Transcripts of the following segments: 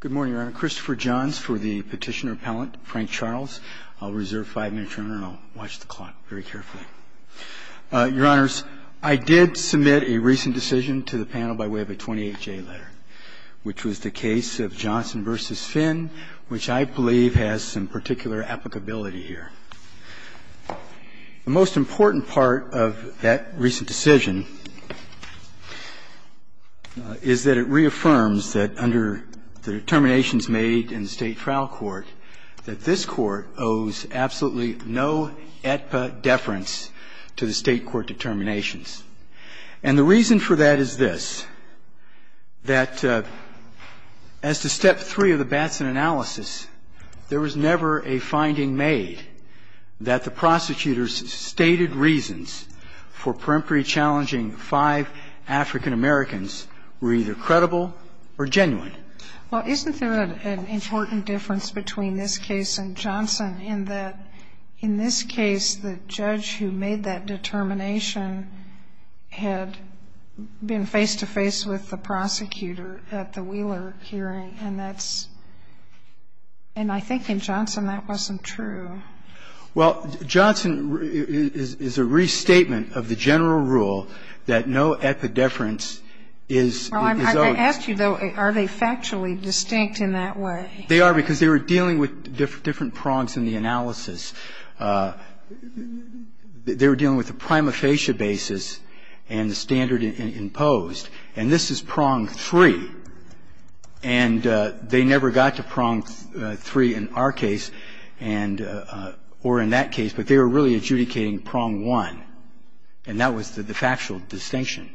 Good morning, Your Honor. Christopher Johns for the Petitioner Appellant, Frank Charles. I'll reserve five minutes, Your Honor, and I'll watch the clock very carefully. Your Honors, I did submit a recent decision to the panel by way of a 28-J letter, which was the case of Johnson v. Finn, which I believe has some particular applicability here. The most important part of that recent decision is that it reaffirms that under the determinations made in the State Trial Court that this Court owes absolutely no AEDPA deference to the State court determinations. And the reason for that is this, that as to Step 3 of the Batson analysis, there was never a finding made that the prosecutor's stated reasons for peremptory challenging five African Americans were either credible or genuine. Well, isn't there an important difference between this case and Johnson in that in this case, the judge who made that determination had been face-to-face with the prosecutor at the Wheeler hearing, and that's – and I think in Johnson that wasn't true. Well, Johnson is a restatement of the general rule that no AEDPA deference is owed. Well, I'm going to ask you, though, are they factually distinct in that way? They are, because they were dealing with different prongs in the analysis. They were dealing with the prima facie basis and the standard imposed. And this is prong 3. And they never got to prong 3 in our case and – or in that case, but they were really adjudicating prong 1. And that was the factual distinction.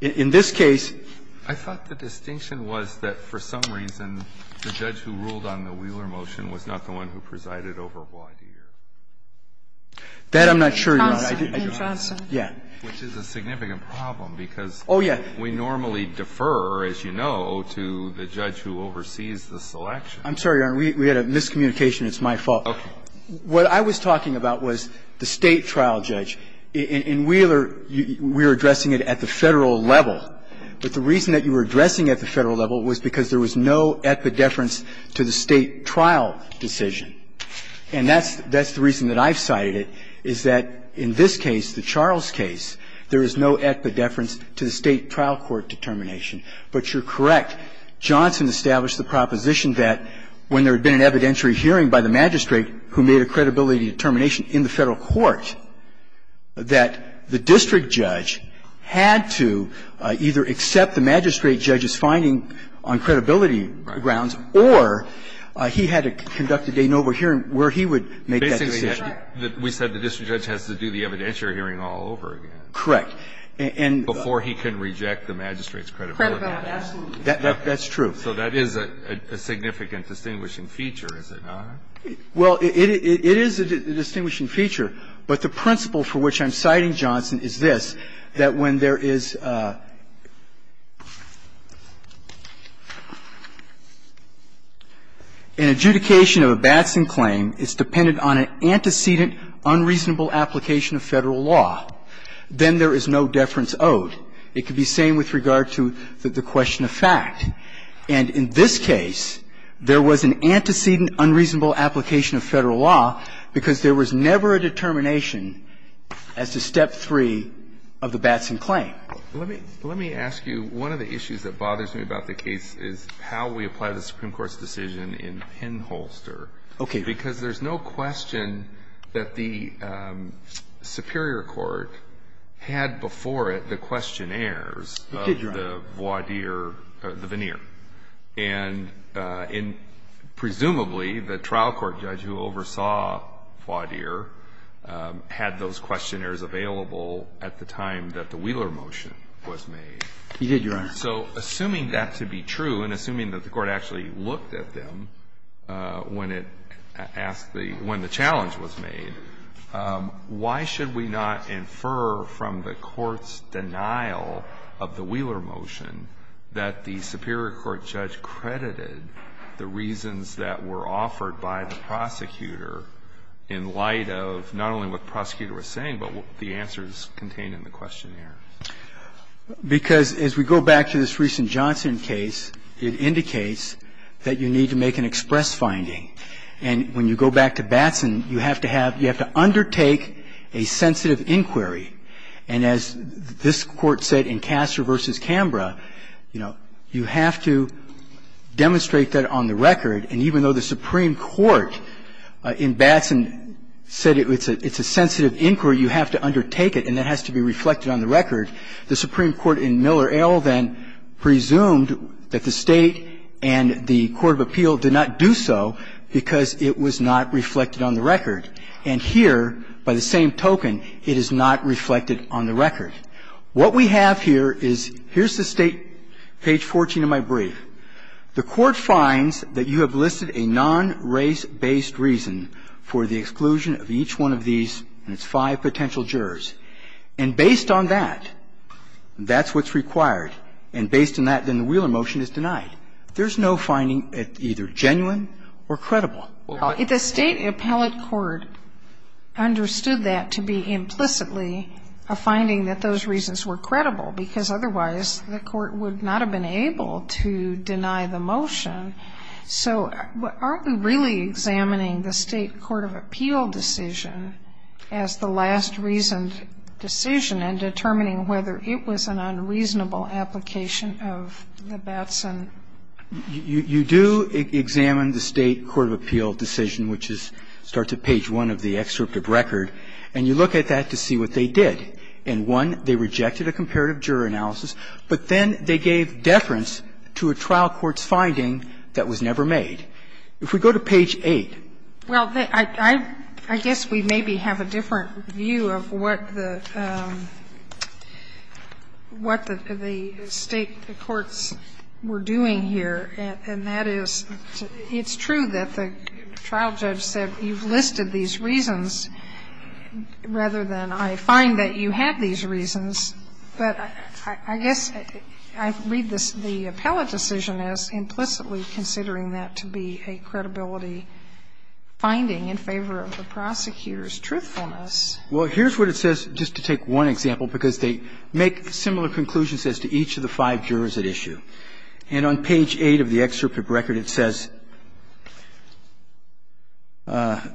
In this case – I thought the distinction was that for some reason the judge who ruled on the Wheeler motion was not the one who presided over Wadeer. That I'm not sure, Your Honor. Johnson. Yeah. Which is a significant problem, because we normally defer, as you know, to the judge who oversees the selection. I'm sorry, Your Honor. We had a miscommunication. It's my fault. Okay. What I was talking about was the State trial judge. In Wheeler, we were addressing it at the Federal level. But the reason that you were addressing it at the Federal level was because there was no epidefference to the State trial decision. And that's the reason that I've cited it, is that in this case, the Charles case, there is no epidefference to the State trial court determination. But you're correct. Johnson established the proposition that when there had been an evidentiary hearing by the magistrate who made a credibility determination in the Federal court, that the district judge had to either accept the magistrate judge's finding on credibility grounds or he had to conduct a de novo hearing where he would make that decision. Basically, we said the district judge has to do the evidentiary hearing all over again. Correct. And the ---- Before he can reject the magistrate's credibility. Correct. Absolutely. That's true. So that is a significant distinguishing feature, is it not? Well, it is a distinguishing feature, but the principle for which I'm citing Johnson is this, that when there is an adjudication of a Batson claim, it's dependent on an antecedent unreasonable application of Federal law, then there is no deference owed. It could be the same with regard to the question of fact. And in this case, there was an antecedent unreasonable application of Federal law because there was never a determination as to step three of the Batson claim. Let me ask you, one of the issues that bothers me about the case is how we apply the Supreme Court's decision in Penholster, because there's no question that the Superior Court had before it the questionnaires of the voir dire or the veneer. It did, Your Honor. And presumably the trial court judge who oversaw voir dire had those questionnaires available at the time that the Wheeler motion was made. He did, Your Honor. So assuming that to be true and assuming that the Court actually looked at them when it asked the – when the challenge was made, why should we not infer from the Court's denial of the Wheeler motion that the Superior Court judge credited the reasons that were offered by the prosecutor in light of not only what the prosecutor was saying, but the answers contained in the questionnaire? Because as we go back to this recent Johnson case, it indicates that you need to make an express finding, and when you go back to Batson, you have to have – you have to undertake a sensitive inquiry, and as this Court said in Castor v. Canberra, you know, you have to demonstrate that on the record. And even though the Supreme Court in Batson said it's a sensitive inquiry, you have to undertake it and it has to be reflected on the record, the Supreme Court in Miller-Ale then presumed that the State and the court of appeal did not do so because it was not reflected on the record. And here, by the same token, it is not reflected on the record. What we have here is – here's the State, page 14 of my brief. The Court finds that you have listed a non-race-based reason for the exclusion of each one of these and its five potential jurors. And based on that, that's what's required. And based on that, then the Wheeler motion is denied. There's no finding that's either genuine or credible. Kagan. The State appellate court understood that to be implicitly a finding that those reasons were credible, because otherwise the court would not have been able to deny the motion. So aren't we really examining the State court of appeal decision as the last reasoned decision in determining whether it was an unreasonable application of the Batson? You do examine the State court of appeal decision, which starts at page one of the excerpt of record, and you look at that to see what they did. In one, they rejected a comparative juror analysis, but then they gave deference to a trial court's finding that was never made. If we go to page 8. Well, I guess we maybe have a different view of what the State courts were doing here, and that is it's true that the trial judge said, you've listed these reasons rather than I find that you have these reasons. But I guess I read the appellate decision as implicitly considering that to be a credibility finding in favor of the prosecutor's truthfulness. Well, here's what it says, just to take one example, because they make similar conclusions as to each of the five jurors at issue. And on page 8 of the excerpt of record, it says I've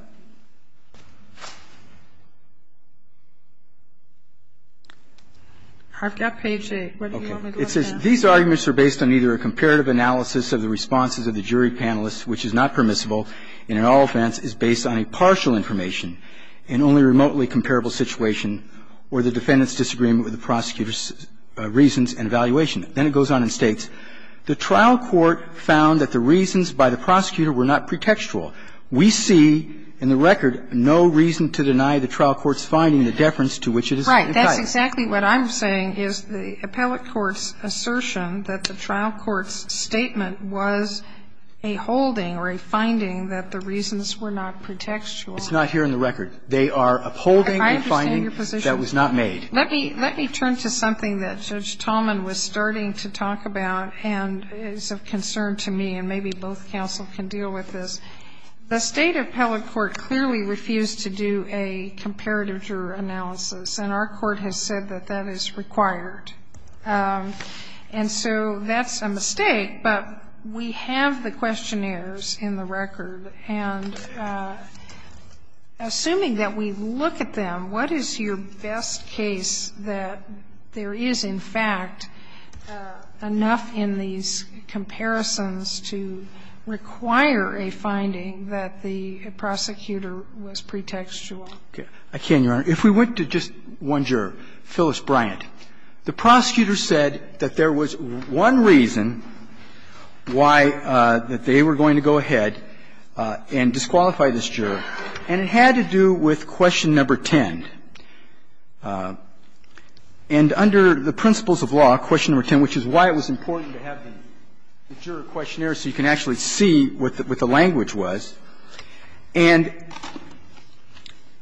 got page 8. What do you want me to look at? These arguments are based on either a comparative analysis of the responses of the jury panelists, which is not permissible, and in all offense is based on a partial information in only remotely comparable situation, or the defendant's disagreement with the prosecutor's reasons and evaluation. Then it goes on and states, The trial court found that the reasons by the prosecutor were not pretextual. We see in the record no reason to deny the trial court's finding the deference to which it is implied. Right. That's exactly what I'm saying is the appellate court's assertion that the trial court's statement was a holding or a finding that the reasons were not pretextual. It's not here in the record. They are upholding a finding that was not made. Let me turn to something that Judge Tallman was starting to talk about and is of concern to me, and maybe both counsel can deal with this. The State appellate court clearly refused to do a comparative juror analysis, and our court has said that that is required. And so that's a mistake, but we have the questionnaires in the record, and assuming that we look at them, what is your best case that there is, in fact, enough in these comparisons to require a finding that the prosecutor was pretextual? I can, Your Honor. If we went to just one juror, Phyllis Bryant, the prosecutor said that there was one reason why that they were going to go ahead and disqualify this juror, and it had to do with question number 10. And under the principles of law, question number 10, which is why it was important to have the juror questionnaire so you can actually see what the language was, and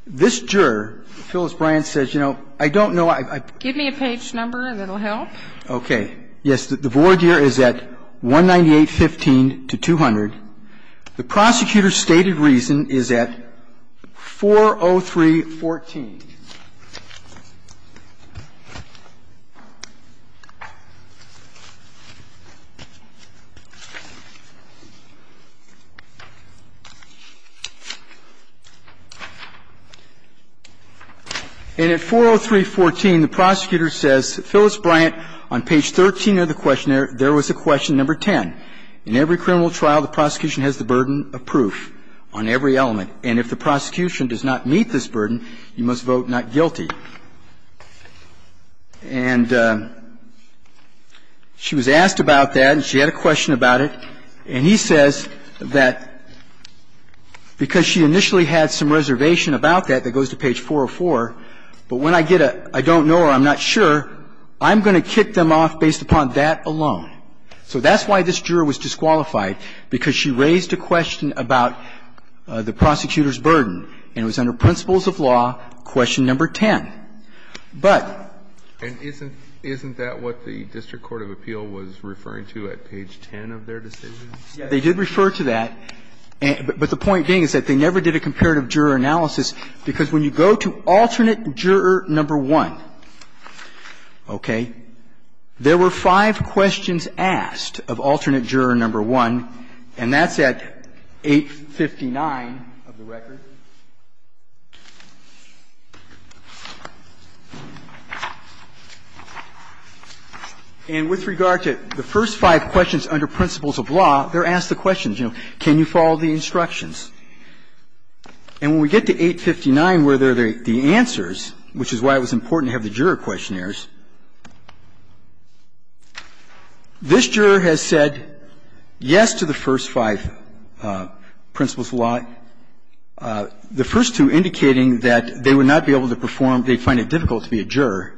this juror, Phyllis Bryant, says, you know, I don't know, I don't know, I don't know. Give me a page number that will help. Okay. Yes, the board here is at 198.15 to 200. The prosecutor's stated reason is at 403.14. And at 403.14, the prosecutor says, Phyllis Bryant, on page 13 of the questionnaire, there was a question number 10. In every criminal trial, the prosecution has the burden of proof on every element. And if the prosecution does not meet this burden, you must vote not guilty. And she was asked about that, and she had a question about it. And he says that because she initially had some reservation about that, that goes to page 404, but when I get a, I don't know or I'm not sure, I'm going to kick them off based upon that alone. So that's why this juror was disqualified, because she raised a question about the prosecutor's burden, and it was under principles of law, question number 10. But the point being is that they never did a comparative juror analysis, because when you go to alternate juror number one, okay, there were five questions in the And with regard to the first five questions under principles of law, they're asked the questions, you know, can you follow the instructions? And when we get to 859 where there are the answers, which is why it was important This juror has said yes to the first five principles of law, the first two indicating that they would not be able to perform, they'd find it difficult to be a juror.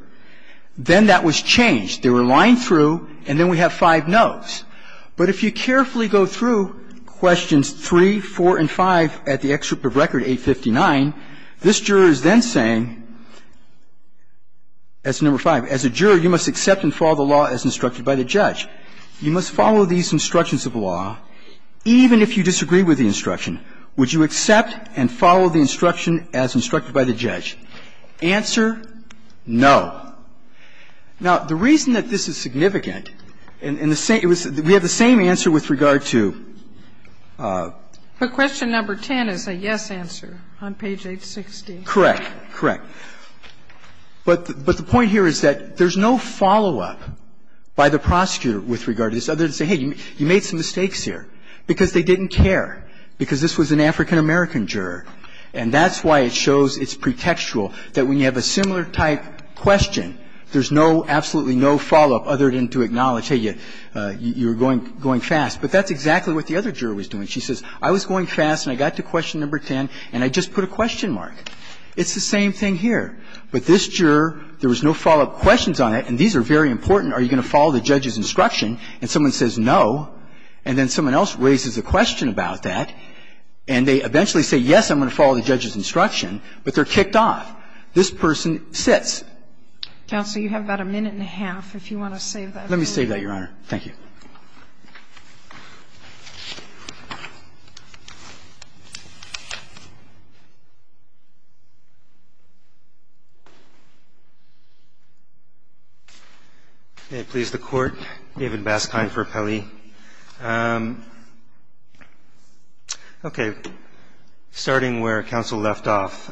Then that was changed. They were lying through, and then we have five nos. But if you carefully go through questions 3, 4, and 5 at the excerpt of Record 859, this juror is then saying, that's number 5, as a juror, you must accept and follow the instructions of the law as instructed by the judge. You must follow these instructions of law, even if you disagree with the instruction. Would you accept and follow the instruction as instructed by the judge? Answer, no. Now, the reason that this is significant, and the same we have the same answer with regard to But question number 10 is a yes answer on page 860. Correct, correct. But the point here is that there's no follow-up by the prosecutor with regard to this, other than to say, hey, you made some mistakes here, because they didn't care, because this was an African-American juror, and that's why it shows it's pretextual that when you have a similar type question, there's no, absolutely no follow-up other than to acknowledge, hey, you're going fast. But that's exactly what the other juror was doing. She says, I was going fast, and I got to question number 10, and I just put a question mark. It's the same thing here. But this juror, there was no follow-up questions on it, and these are very important. Are you going to follow the judge's instruction? And someone says no, and then someone else raises a question about that, and they eventually say, yes, I'm going to follow the judge's instruction, but they're kicked off. This person sits. Counsel, you have about a minute and a half, if you want to save that. Let me save that, Your Honor. Thank you. Baskine, for Pelley. Okay. Starting where counsel left off,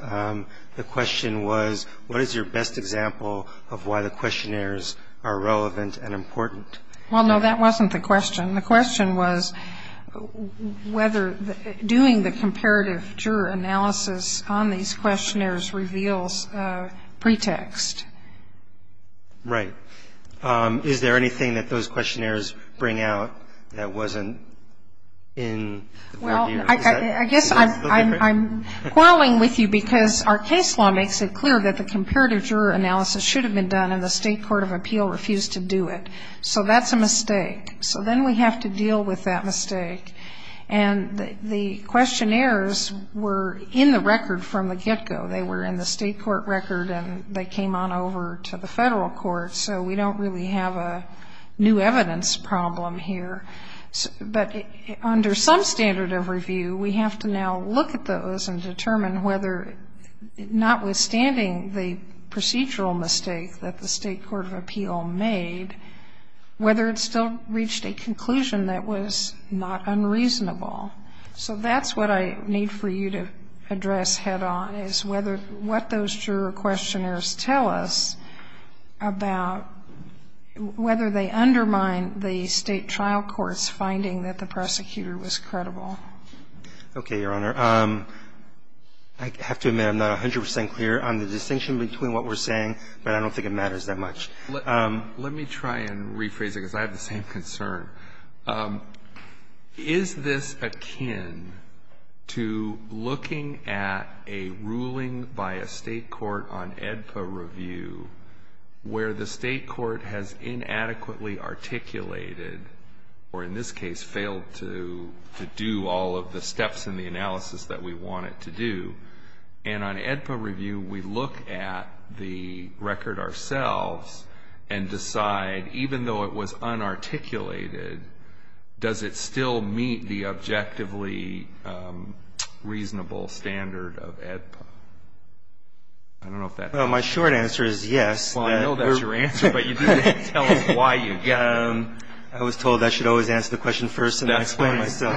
the question was, what is your best example of why the questionnaires are relevant and important? Well, no, that wasn't the question. The question was whether doing the comparative juror analysis on these questionnaires reveals a pretext. Right. Is there anything that those questionnaires bring out that wasn't in the review? Well, I guess I'm quarreling with you because our case law makes it clear that the comparative juror analysis should have been done, and the State Court of Appeal refused to do it. So that's a mistake. So then we have to deal with that mistake. And the questionnaires were in the record from the get-go. They were in the State Court record, and they came on over to the Federal Court. So we don't really have a new evidence problem here. But under some standard of review, we have to now look at those and determine whether, notwithstanding the procedural mistake that the State Court of Appeal made, whether it still reached a conclusion that was not unreasonable. So that's what I need for you to address head-on is whether what those juror questionnaires tell us about whether they undermine the State trial court's finding that the prosecutor was credible. Okay, Your Honor. I have to admit I'm not 100 percent clear on the distinction between what we're saying, but I don't think it matters that much. Let me try and rephrase it, because I have the same concern. Is this akin to looking at a ruling by a State court on AEDPA review where the State court has inadequately articulated, or in this case failed to do all of the steps in the analysis that we want it to do, and on AEDPA review we look at the record ourselves and decide, even though it was unarticulated, does it still meet the objectively reasonable standard of AEDPA? I don't know if that helps. Well, my short answer is yes. Well, I know that's your answer, but you didn't tell us why you get it. I was told I should always answer the question first and then explain myself.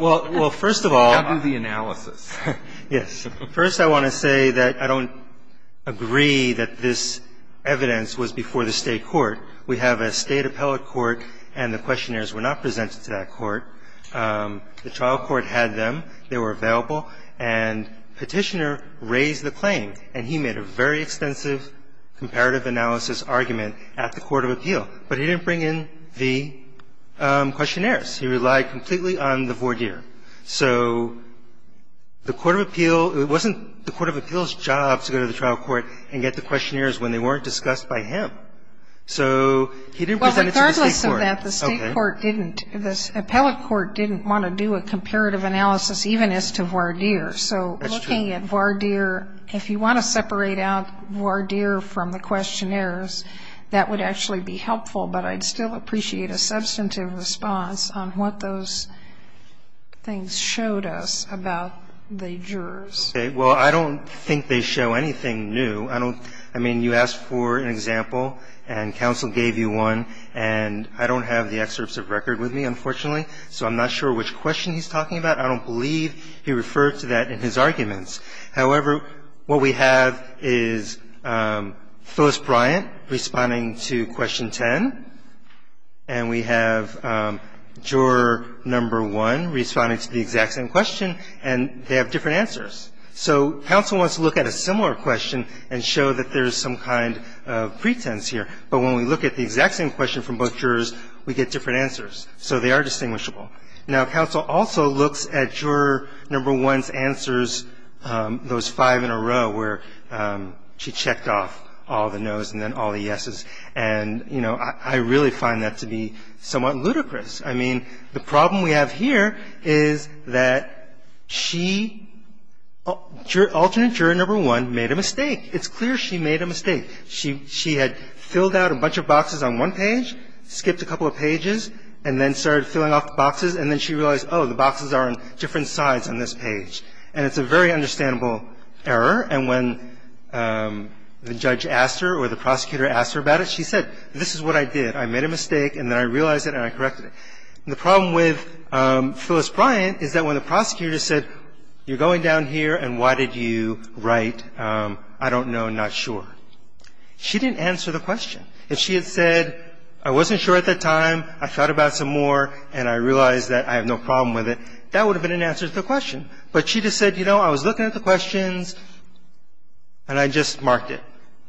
Well, first of all. I'll do the analysis. Yes. First, I want to say that I don't agree that this evidence was before the State court. We have a State appellate court, and the questionnaires were not presented to that court. The trial court had them. They were available. And Petitioner raised the claim, and he made a very extensive comparative analysis argument at the court of appeal. But he didn't bring in the questionnaires. He relied completely on the voir dire. So the court of appeal, it wasn't the court of appeal's job to go to the trial court and get the questionnaires when they weren't discussed by him. So he didn't present it to the State court. Well, regardless of that, the State court didn't, the appellate court didn't want to do a comparative analysis even as to voir dire. So looking at voir dire, if you want to separate out voir dire from the questionnaires, that would actually be helpful, but I'd still appreciate a little bit more detail on what things showed us about the jurors. Okay. Well, I don't think they show anything new. I don't, I mean, you asked for an example, and counsel gave you one. And I don't have the excerpts of record with me, unfortunately, so I'm not sure which question he's talking about. I don't believe he referred to that in his arguments. However, what we have is Phyllis Bryant responding to question 10. And we have juror number 1 responding to the exact same question, and they have different answers. So counsel wants to look at a similar question and show that there's some kind of pretense here. But when we look at the exact same question from both jurors, we get different answers. So they are distinguishable. Now, counsel also looks at juror number 1's answers, those five in a row where she checked off all the no's and then all the yes's. And, you know, I really find that to be somewhat ludicrous. I mean, the problem we have here is that she, alternate juror number 1, made a mistake. It's clear she made a mistake. She had filled out a bunch of boxes on one page, skipped a couple of pages, and then started filling off the boxes. And then she realized, oh, the boxes are on different sides on this page. And it's a very understandable error. And when the judge asked her or the prosecutor asked her about it, she said, this is what I did. I made a mistake, and then I realized it, and I corrected it. And the problem with Phyllis Bryant is that when the prosecutor said, you're going down here, and why did you write, I don't know, not sure, she didn't answer the question. If she had said, I wasn't sure at that time, I thought about some more, and I realized that I have no problem with it, that would have been an answer to the question. But she just said, you know, I was looking at the questions, and I just marked it.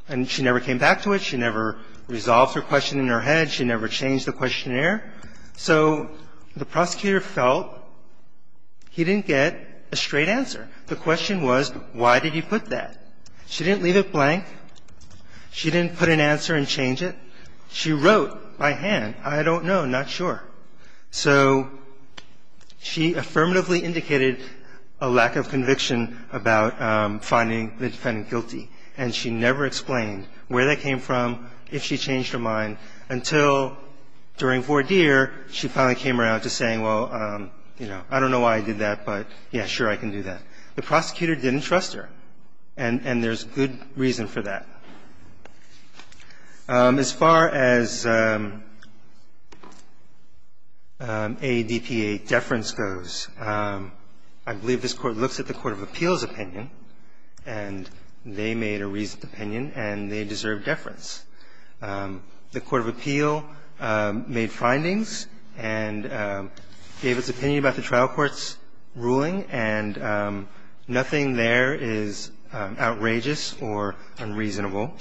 And she never came back to it. She never resolved her question in her head. She never changed the questionnaire. So the prosecutor felt he didn't get a straight answer. The question was, why did you put that? She didn't leave it blank. She didn't put an answer and change it. She wrote by hand, I don't know, not sure. So she affirmatively indicated a lack of conviction about finding the defendant guilty. And she never explained where that came from, if she changed her mind, until during voir dire, she finally came around to saying, well, you know, I don't know why I did that, but, yeah, sure, I can do that. The prosecutor didn't trust her, and there's good reason for that. As far as AADP 8 deference goes, I believe this Court looks at the court of appeals opinion, and they made a reasoned opinion, and they deserve deference. The court of appeal made findings and gave its opinion about the trial court's ruling, and nothing there is outrageous or unreasonable.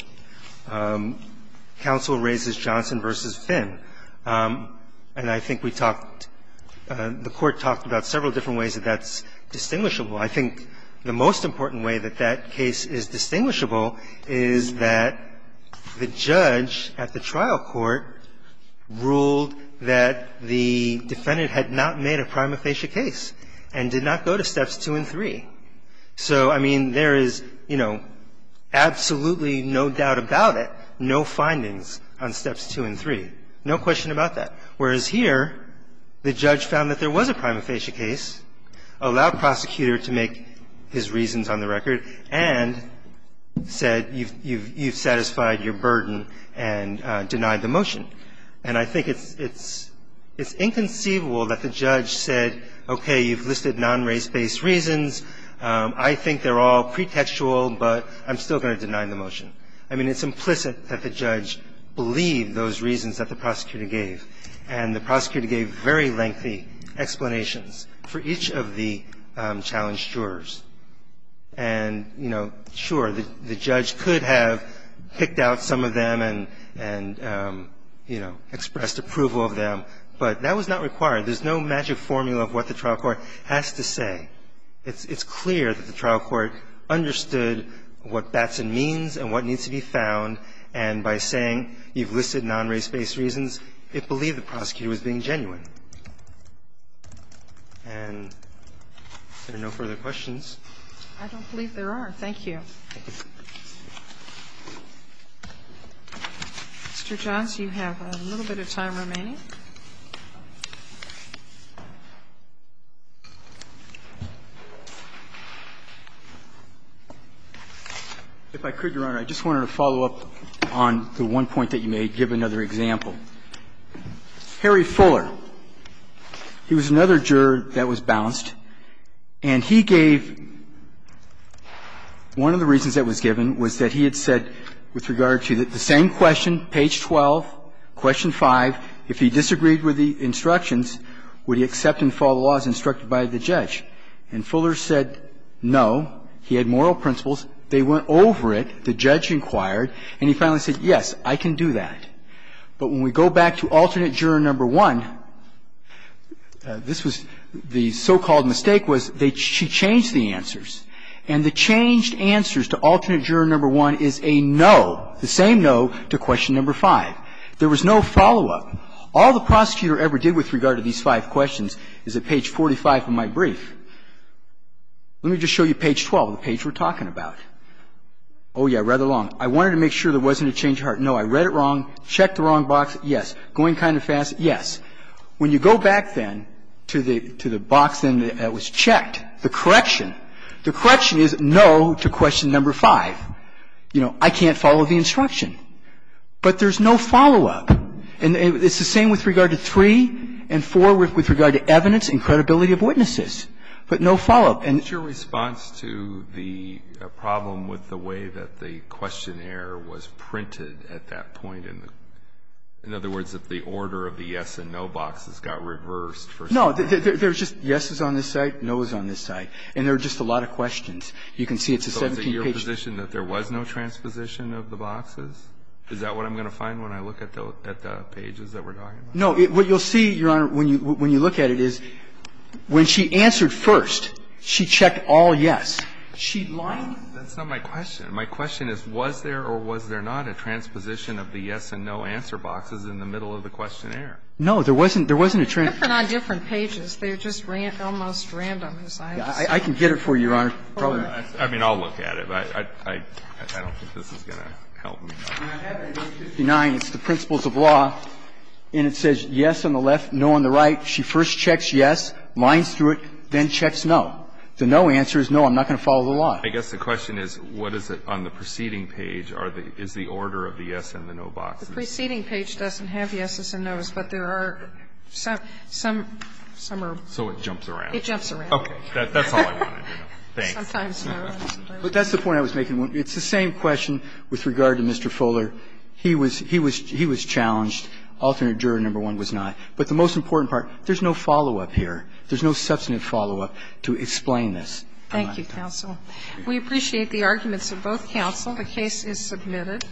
Counsel raises Johnson v. Finn, and I think we talked, the court talked about several different ways that that's distinguishable. I think the most important way that that case is distinguishable is that the judge at the trial court ruled that the defendant had not made a prima facie case and did not go to steps two and three. So, I mean, there is, you know, absolutely no doubt about it, no findings on steps two and three, no question about that, whereas here the judge found that there was a prima facie case, allowed prosecutor to make his reasons on the record, and said you've satisfied your burden and denied the motion. And I think it's inconceivable that the judge said, okay, you've listed non-race based reasons, I think they're all pretextual, but I'm still going to deny the motion. I mean, it's implicit that the judge believed those reasons that the prosecutor gave, and the prosecutor gave very lengthy explanations for each of the challenged jurors, and, you know, sure, the judge could have picked out some of them and, you know, expressed approval of them, but that was not required. There's no magic formula of what the trial court has to say. It's clear that the trial court understood what Batson means and what needs to be found, and by saying you've listed non-race based reasons, it believed the prosecutor was being genuine. And if there are no further questions? I don't believe there are. Thank you. Mr. Johns, you have a little bit of time remaining. If I could, Your Honor, I just wanted to follow up on the one point that you made, give another example. Harry Fuller, he was another juror that was bounced, and he gave one of the reasons that was given was that he had said with regard to the same question, page 12, question 5, if he disagreed with the instructions, would he accept and follow the laws instructed by the judge? And Fuller said no. He had moral principles. They went over it, the judge inquired, and he finally said, yes, I can do that. But when we go back to alternate juror number 1, this was the so-called mistake was she changed the answers. And the changed answers to alternate juror number 1 is a no, the same no to question number 5. There was no follow-up. All the prosecutor ever did with regard to these five questions is at page 45 of my brief. Let me just show you page 12, the page we're talking about. Oh, yeah, rather long. I wanted to make sure there wasn't a change of heart. No, I read it wrong. Checked the wrong box. Yes. Going kind of fast. Yes. When you go back then to the box that was checked, the correction, the correction is no to question number 5. You know, I can't follow the instruction. But there's no follow-up. And it's the same with regard to 3 and 4 with regard to evidence and credibility of witnesses, but no follow-up. And the question was, what's your response to the problem with the way that the questionnaire was printed at that point? In other words, if the order of the yes and no boxes got reversed for some reason? No. There's just yeses on this side, nos on this side, and there are just a lot of questions. You can see it's a 17-page. There was no transposition of the boxes? Is that what I'm going to find when I look at the pages that we're talking about? No. What you'll see, Your Honor, when you look at it is when she answered first, she checked all yes. She lied? That's not my question. My question is, was there or was there not a transposition of the yes and no answer boxes in the middle of the questionnaire? No, there wasn't. There wasn't a transposition. They're different on different pages. They're just almost random. I can get it for you, Your Honor. I mean, I'll look at it. But I don't think this is going to help me. I have it in page 59. It's the principles of law. And it says yes on the left, no on the right. She first checks yes, lines through it, then checks no. The no answer is no, I'm not going to follow the law. I guess the question is, what is it on the preceding page? Is the order of the yes and the no boxes? The preceding page doesn't have yeses and nos, but there are some. Some are. So it jumps around. It jumps around. That's all I wanted to know. Sometimes no, sometimes no. But that's the point I was making. It's the same question with regard to Mr. Fuller. He was challenged. Alternate juror number one was not. But the most important part, there's no follow-up here. There's no substantive follow-up to explain this. Thank you, counsel. We appreciate the arguments of both counsel. The case is submitted.